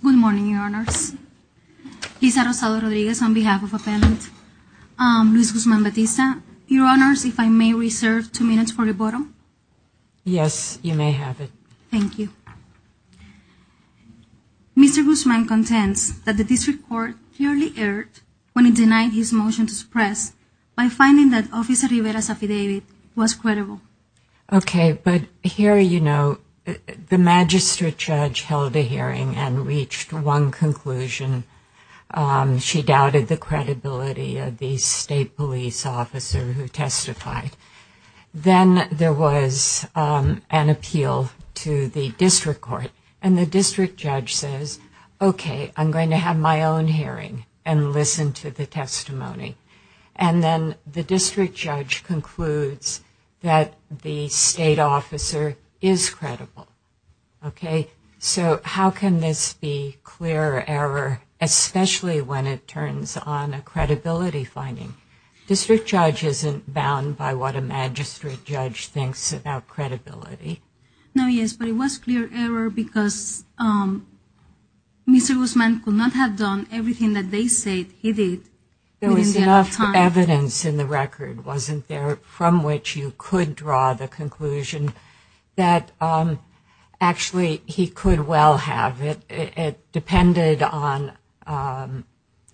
Good morning, Your Honors. Lisa Rosado Rodriguez on behalf of Appellant Luis Guzman-Batista. Your Honors, if I may reserve two minutes for rebuttal. Yes, you may have it. Thank you. Mr. Guzman-Batista contends that the District Court clearly erred when it denied his motion to suppress by finding that Officer Rivera's affidavit was credible. Okay, but here you know the Magistrate Judge held a hearing and reached one conclusion. She doubted the credibility of the State Police Officer who testified. Then there was an appeal to the District Court, and the District Judge says, okay, I'm going to have my own hearing and listen to the testimony. And then the District Judge concludes that the State Officer is credible. Okay, so how can this be clear error, especially when it turns on a credibility finding? District Judge isn't bound by what a Magistrate Judge thinks about credibility. No, yes, but it was clear error because Mr. Guzman could not have done everything that they said he did. There was enough evidence in the record, wasn't there, from which you could draw the conclusion that actually he could well have. It depended on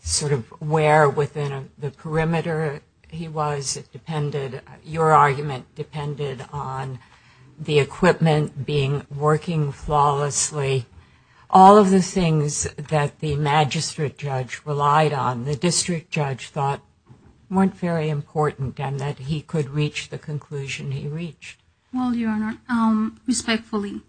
sort of where within the perimeter he was. It depended, your argument, depended on the equipment being working flawlessly. All of the things that the Magistrate Judge relied on, the District Judge thought weren't very important and that he could reach the conclusion he reached. Well, Your Honor, respectfully,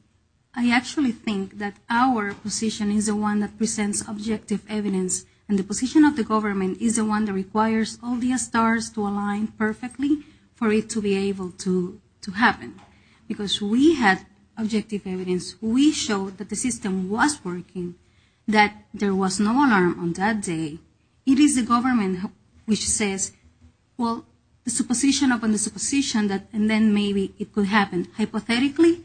I actually think that our position is the one that presents objective evidence, and the position of the government is the one that requires all the stars to align perfectly for it to be able to happen. Because we had objective evidence. We showed that the system was working, that there was no alarm on that day. It is the government which says, well, the supposition upon the supposition, and then maybe it could happen. Hypothetically?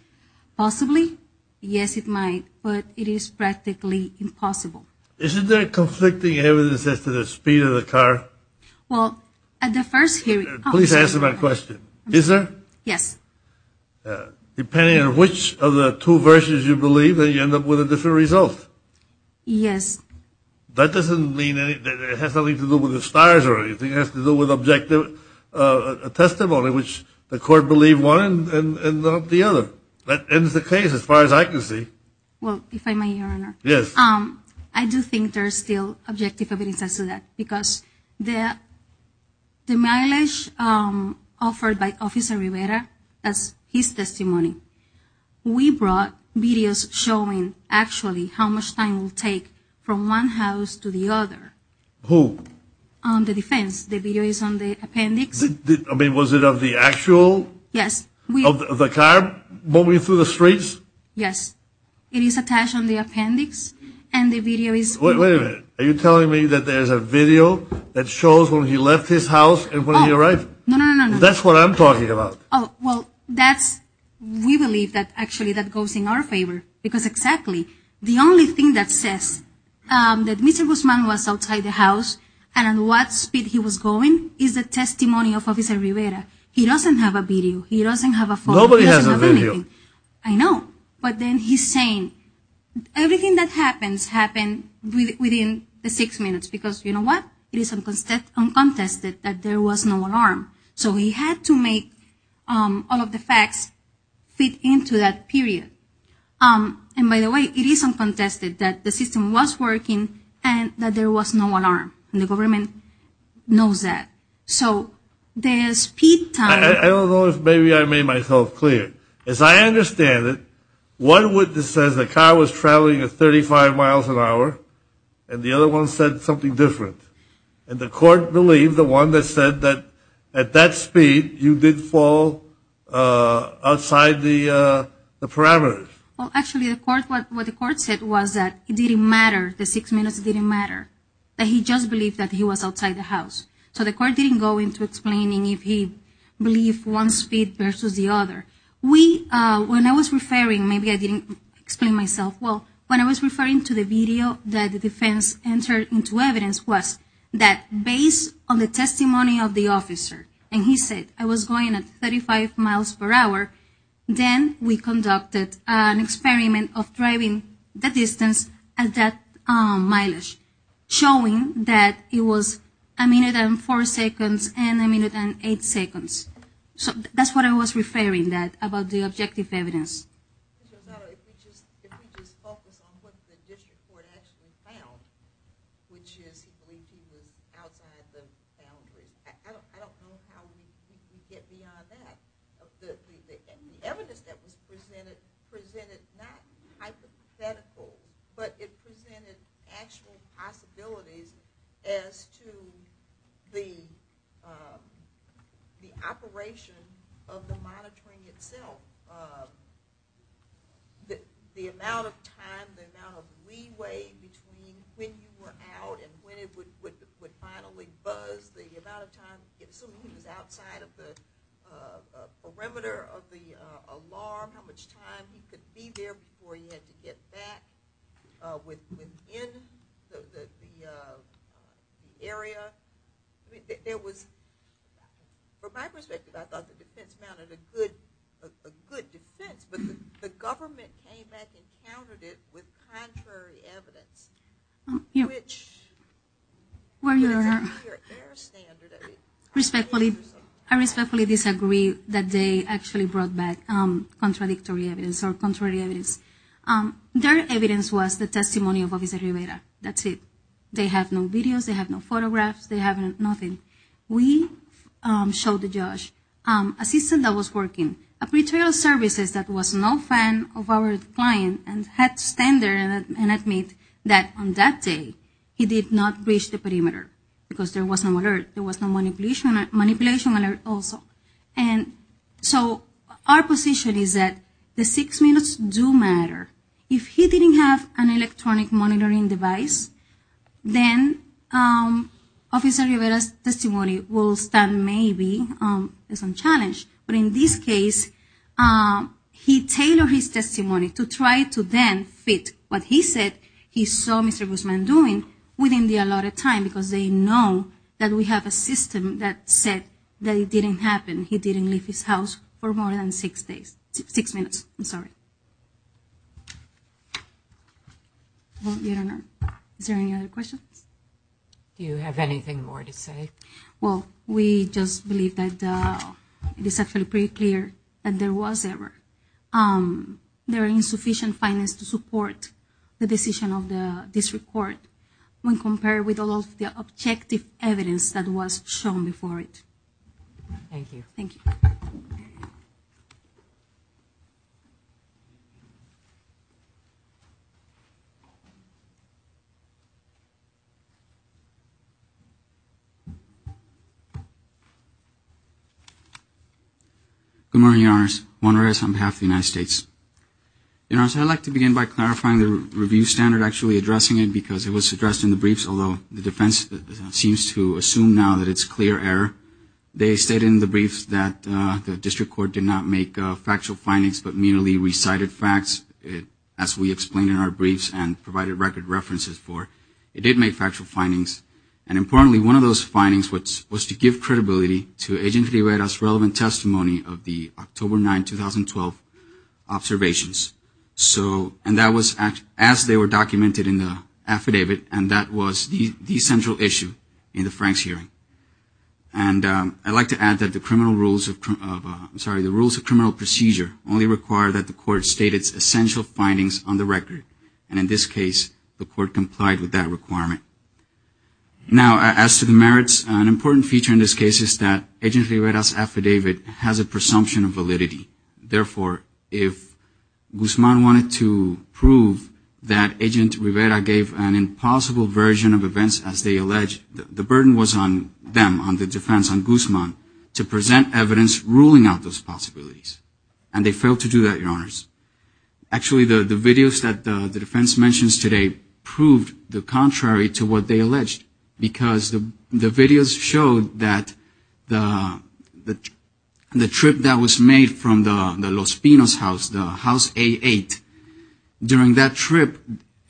Possibly? Yes, it might, but it is practically impossible. Isn't there conflicting evidence as to the speed of the car? Well, at the first hearing… Depending on which of the two versions you believe, then you end up with a different result. Yes. That doesn't mean that it has something to do with the stars or anything. It has to do with objective testimony, which the Court believed one and not the other. That ends the case as far as I can see. Well, if I may, Your Honor. Yes. I do think there is still objective evidence as to that, because the mileage offered by Officer Rivera as his testimony, we brought videos showing actually how much time it would take from one house to the other. Who? The defense. The video is on the appendix. I mean, was it of the actual… Yes. …of the car moving through the streets? Yes. It is attached on the appendix, and the video is… Wait a minute. Are you telling me that there is a video that shows when he left his house and when he arrived? No, no, no, no. That's what I'm talking about. Oh, well, that's… We believe that actually that goes in our favor, because exactly the only thing that says that Mr. Guzman was outside the house and at what speed he was going is the testimony of Officer Rivera. He doesn't have a video. He doesn't have a photo. Nobody has a video. He doesn't have anything. I know, but then he's saying everything that happens happened within the six minutes, because you know what? It is uncontested that there was no alarm. So he had to make all of the facts fit into that period. And by the way, it is uncontested that the system was working and that there was no alarm, and the government knows that. So the speed time… I don't know if maybe I made myself clear. As I understand it, one witness says the car was traveling at 35 miles an hour, and the other one said something different. And the court believed the one that said that at that speed, you did fall outside the parameters. Well, actually, what the court said was that it didn't matter. The six minutes didn't matter. He just believed that he was outside the house. So the court didn't go into explaining if he believed one speed versus the other. When I was referring… Maybe I didn't explain myself well. When I was referring to the video that the defense entered into evidence was that based on the testimony of the officer, and he said I was going at 35 miles per hour, then we conducted an experiment of driving the distance at that mileage, showing that it was a minute and four seconds and a minute and eight seconds. So that's what I was referring to about the objective evidence. If we just focus on what the district court actually found, which is he believed he was outside the boundaries. I don't know how we get beyond that. The evidence that was presented presented not hypothetical, but it presented actual possibilities as to the operation of the monitoring itself. The amount of time, the amount of leeway between when you were out and when it would finally buzz, assuming he was outside of the perimeter of the alarm, how much time he could be there before he had to get back within the area. From my perspective, I thought the defense mounted a good defense, but the government came back and countered it with contrary evidence, which I respectfully disagree that they actually brought back contradictory evidence or contrary evidence. Their evidence was the testimony of Officer Rivera. That's it. They have no videos. They have no photographs. They have nothing. We showed to Josh a system that was working, a pretrial services that was no fan of our client and had to stand there and admit that on that day he did not reach the perimeter because there was no alert. There was no manipulation alert also. Our position is that the six minutes do matter. If he didn't have an electronic monitoring device, then Officer Rivera's testimony will stand maybe as a challenge. But in this case, he tailored his testimony to try to then fit what he said he saw Mr. Guzman doing within the allotted time because they know that we have a system that said that it didn't happen. He didn't leave his house for more than six minutes. Is there any other questions? Do you have anything more to say? Well, we just believe that it is actually pretty clear that there was error. There are insufficient findings to support the decision of this report when compared with all of the objective evidence that was shown before it. Thank you. Thank you. Good morning, Your Honors. Juan Reyes on behalf of the United States. Your Honors, I'd like to begin by clarifying the review standard, actually addressing it because it was addressed in the briefs, although the defense seems to assume now that it's clear error. They state in the briefs that the district court did not make factual findings but merely recited facts as we explained in our briefs and provided record references for. It did make factual findings. And importantly, one of those findings was to give credibility to Agent Rivera's relevant testimony of the October 9, 2012 observations. And that was as they were documented in the affidavit, and that was the central issue in the Franks hearing. And I'd like to add that the rules of criminal procedure only require that the court state its essential findings on the record. And in this case, the court complied with that requirement. Now, as to the merits, an important feature in this case is that Agent Rivera's affidavit has a presumption of validity. Therefore, if Guzman wanted to prove that Agent Rivera gave an impossible version of events, as they allege, the burden was on them, on the defense, on Guzman, to present evidence ruling out those possibilities. And they failed to do that, Your Honors. Actually, the videos that the defense mentions today proved the contrary to what they alleged, because the videos showed that the trip that was made from the Los Pinos house, the house A8, during that trip,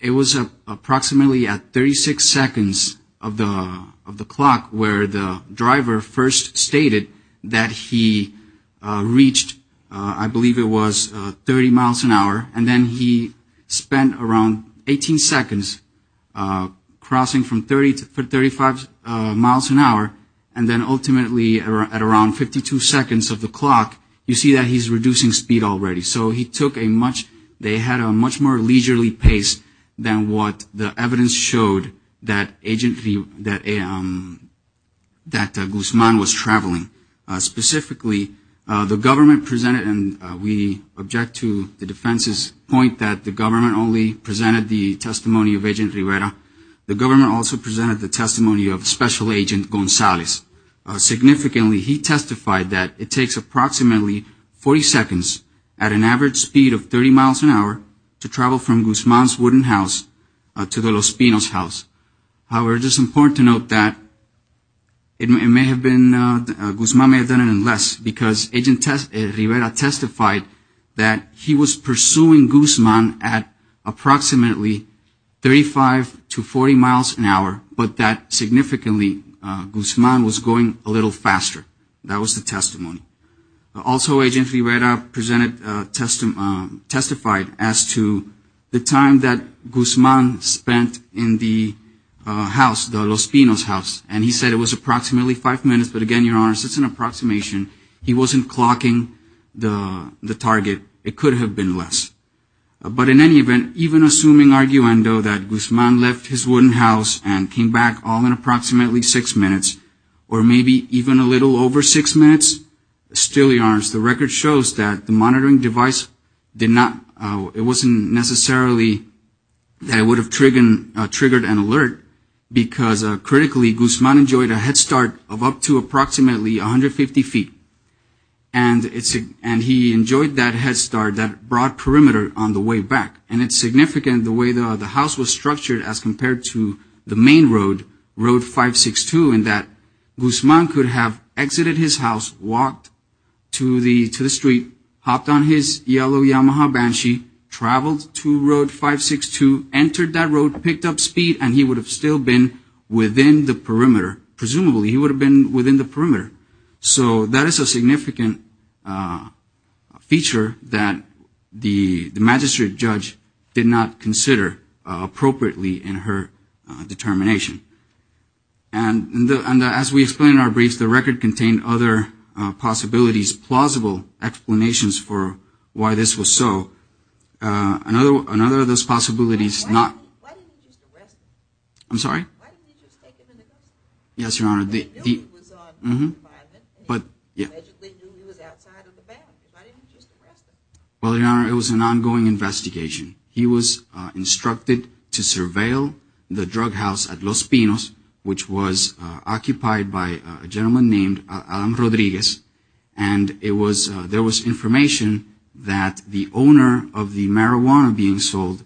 it was approximately at 36 seconds of the clock where the driver first stated that he reached, I believe it was 30 miles an hour, and then he spent around 18 seconds crossing from 30 to 35 miles an hour, and then ultimately at around 52 seconds of the clock, you see that he's reducing speed already. So he took a much, they had a much more leisurely pace than what the evidence showed that Guzman was traveling. Specifically, the government presented, and we object to the defense's point that the government only presented the testimony of Agent Rivera. The government also presented the testimony of Special Agent Gonzalez. Significantly, he testified that it takes approximately 40 seconds at an average speed of 30 miles an hour to travel from Guzman's wooden house to the Los Pinos house. However, it is important to note that it may have been, Guzman may have done it in less, because Agent Rivera testified that he was pursuing Guzman at approximately 35 to 40 miles an hour, but that significantly Guzman was going a little faster. That was the testimony. Also, Agent Rivera presented, testified as to the time that Guzman spent in the house, the Los Pinos house, and he said it was approximately five minutes, but again, Your Honors, it's an approximation. He wasn't clocking the target. It could have been less. But in any event, even assuming arguendo that Guzman left his wooden house and came back all in approximately six minutes, or maybe even a little over six minutes, still Your Honors, the record shows that the monitoring device did not, it wasn't necessarily that it would have triggered an alert, because critically Guzman enjoyed a head start of up to approximately 150 feet, and he enjoyed that head start, that broad perimeter on the way back. And it's significant the way the house was structured as compared to the main road, Road 562, in that Guzman could have exited his house, walked to the street, hopped on his yellow Yamaha Banshee, traveled to Road 562, entered that road, picked up speed, and he would have still been within the perimeter. Presumably, he would have been within the perimeter. So that is a significant feature that the magistrate judge did not consider appropriately in her determination. And as we explained in our briefs, the record contained other possibilities, plausible explanations for why this was so. Another of those possibilities is not... Why didn't he just arrest him? I'm sorry? Why didn't he just take him into custody? Yes, Your Honor, the... He knew he was on home confinement, and he magically knew he was outside of the ban. Why didn't he just arrest him? Well, Your Honor, it was an ongoing investigation. He was instructed to surveil the drug house at Los Pinos, which was occupied by a gentleman named Adam Rodriguez, and there was information that the owner of the marijuana being sold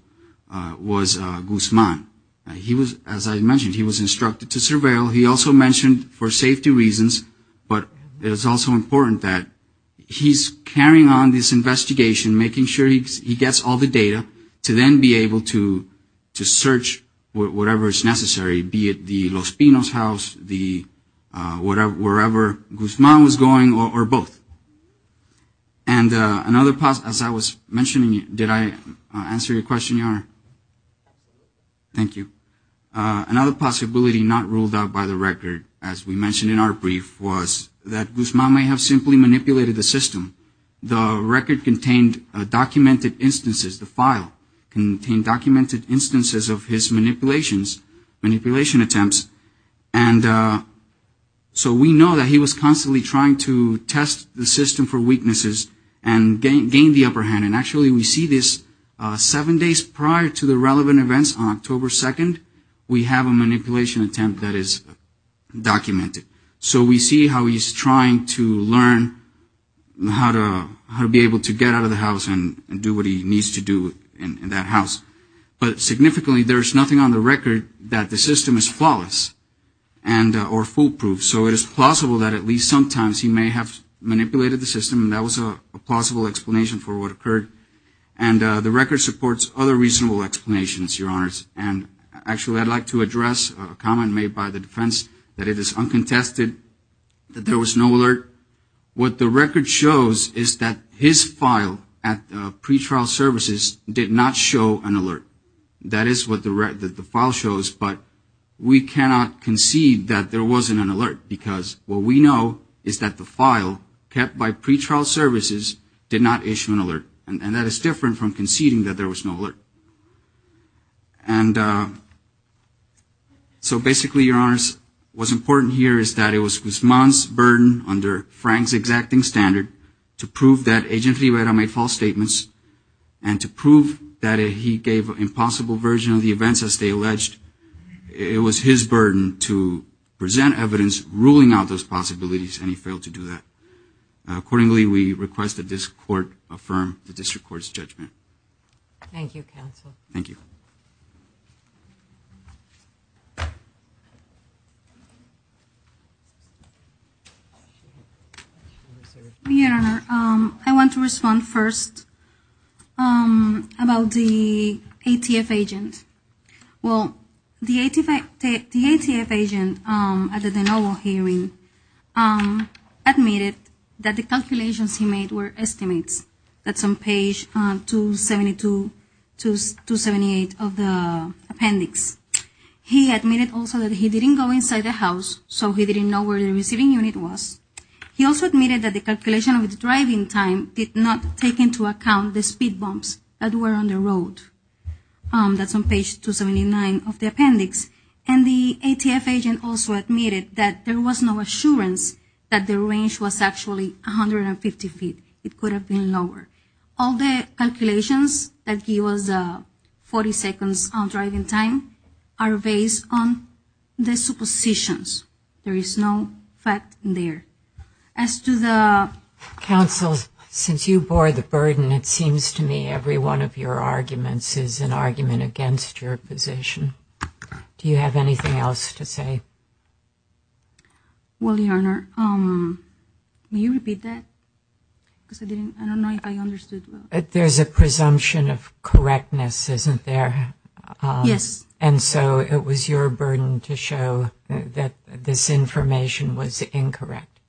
was Guzman. He was, as I mentioned, he was instructed to surveil. He also mentioned for safety reasons, but it is also important that he's carrying on this investigation, making sure he gets all the data to then be able to search whatever is necessary, be it the Los Pinos house, wherever Guzman was going, or both. And another, as I was mentioning, did I answer your question, Your Honor? Thank you. Another possibility not ruled out by the record, as we mentioned in our brief, was that Guzman may have simply manipulated the system. The record contained documented instances, the file contained documented instances of his manipulations, manipulation attempts, and so we know that he was constantly trying to test the system for weaknesses and gain the upper hand. And actually we see this seven days prior to the relevant events on October 2nd, we have a manipulation attempt that is documented. So we see how he's trying to learn how to be able to get out of the house and do what he needs to do in that house. But significantly, there is nothing on the record that the system is flawless or foolproof. So it is plausible that at least sometimes he may have manipulated the system, and that was a plausible explanation for what occurred. And the record supports other reasonable explanations, Your Honors. And actually I'd like to address a comment made by the defense that it is uncontested that there was no alert. What the record shows is that his file at pretrial services did not show an alert. That is what the file shows, but we cannot concede that there wasn't an alert because what we know is that the file kept by pretrial services did not issue an alert. And that is different from conceding that there was no alert. And so basically, Your Honors, what's important here is that it was Guzman's burden under Frank's exacting standard to prove that Agent Rivera made false statements and to prove that he gave an impossible version of the events as they alleged. It was his burden to present evidence ruling out those possibilities and he failed to do that. Accordingly, we request that this court affirm the district court's judgment. Thank you, counsel. Thank you. Your Honor, I want to respond first about the ATF agent. Well, the ATF agent at the de novo hearing admitted that the calculations he made were estimates. That's on page 278 of the appendix. He admitted also that he didn't go inside the house, so he didn't know where the receiving unit was. He also admitted that the calculation of the driving time did not take into account the speed bumps that were on the road. That's on page 279 of the appendix. And the ATF agent also admitted that there was no assurance that the range was actually 150 feet. It could have been lower. All the calculations that give us 40 seconds on driving time are based on the suppositions. There is no fact in there. Counsel, since you bore the burden, it seems to me every one of your arguments is an argument against your position. Do you have anything else to say? Well, Your Honor, will you repeat that? I don't know if I understood. There's a presumption of correctness, isn't there? Yes. And so it was your burden to show that this information was incorrect.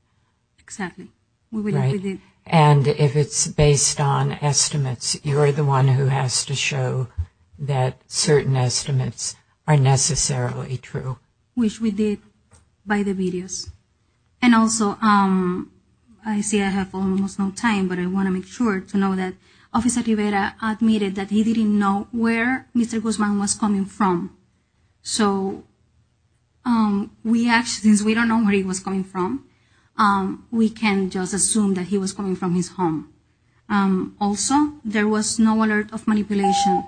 Exactly. Right? And if it's based on estimates, you're the one who has to show that certain estimates are necessarily true. Which we did by the videos. And also, I see I have almost no time, but I want to make sure to know that Officer Rivera admitted that he didn't know where Mr. Guzman was coming from. So since we don't know where he was coming from, we can just assume that he was coming from his home. Also, there was no alert of manipulation.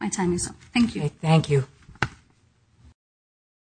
My time is up. Thank you. Thank you.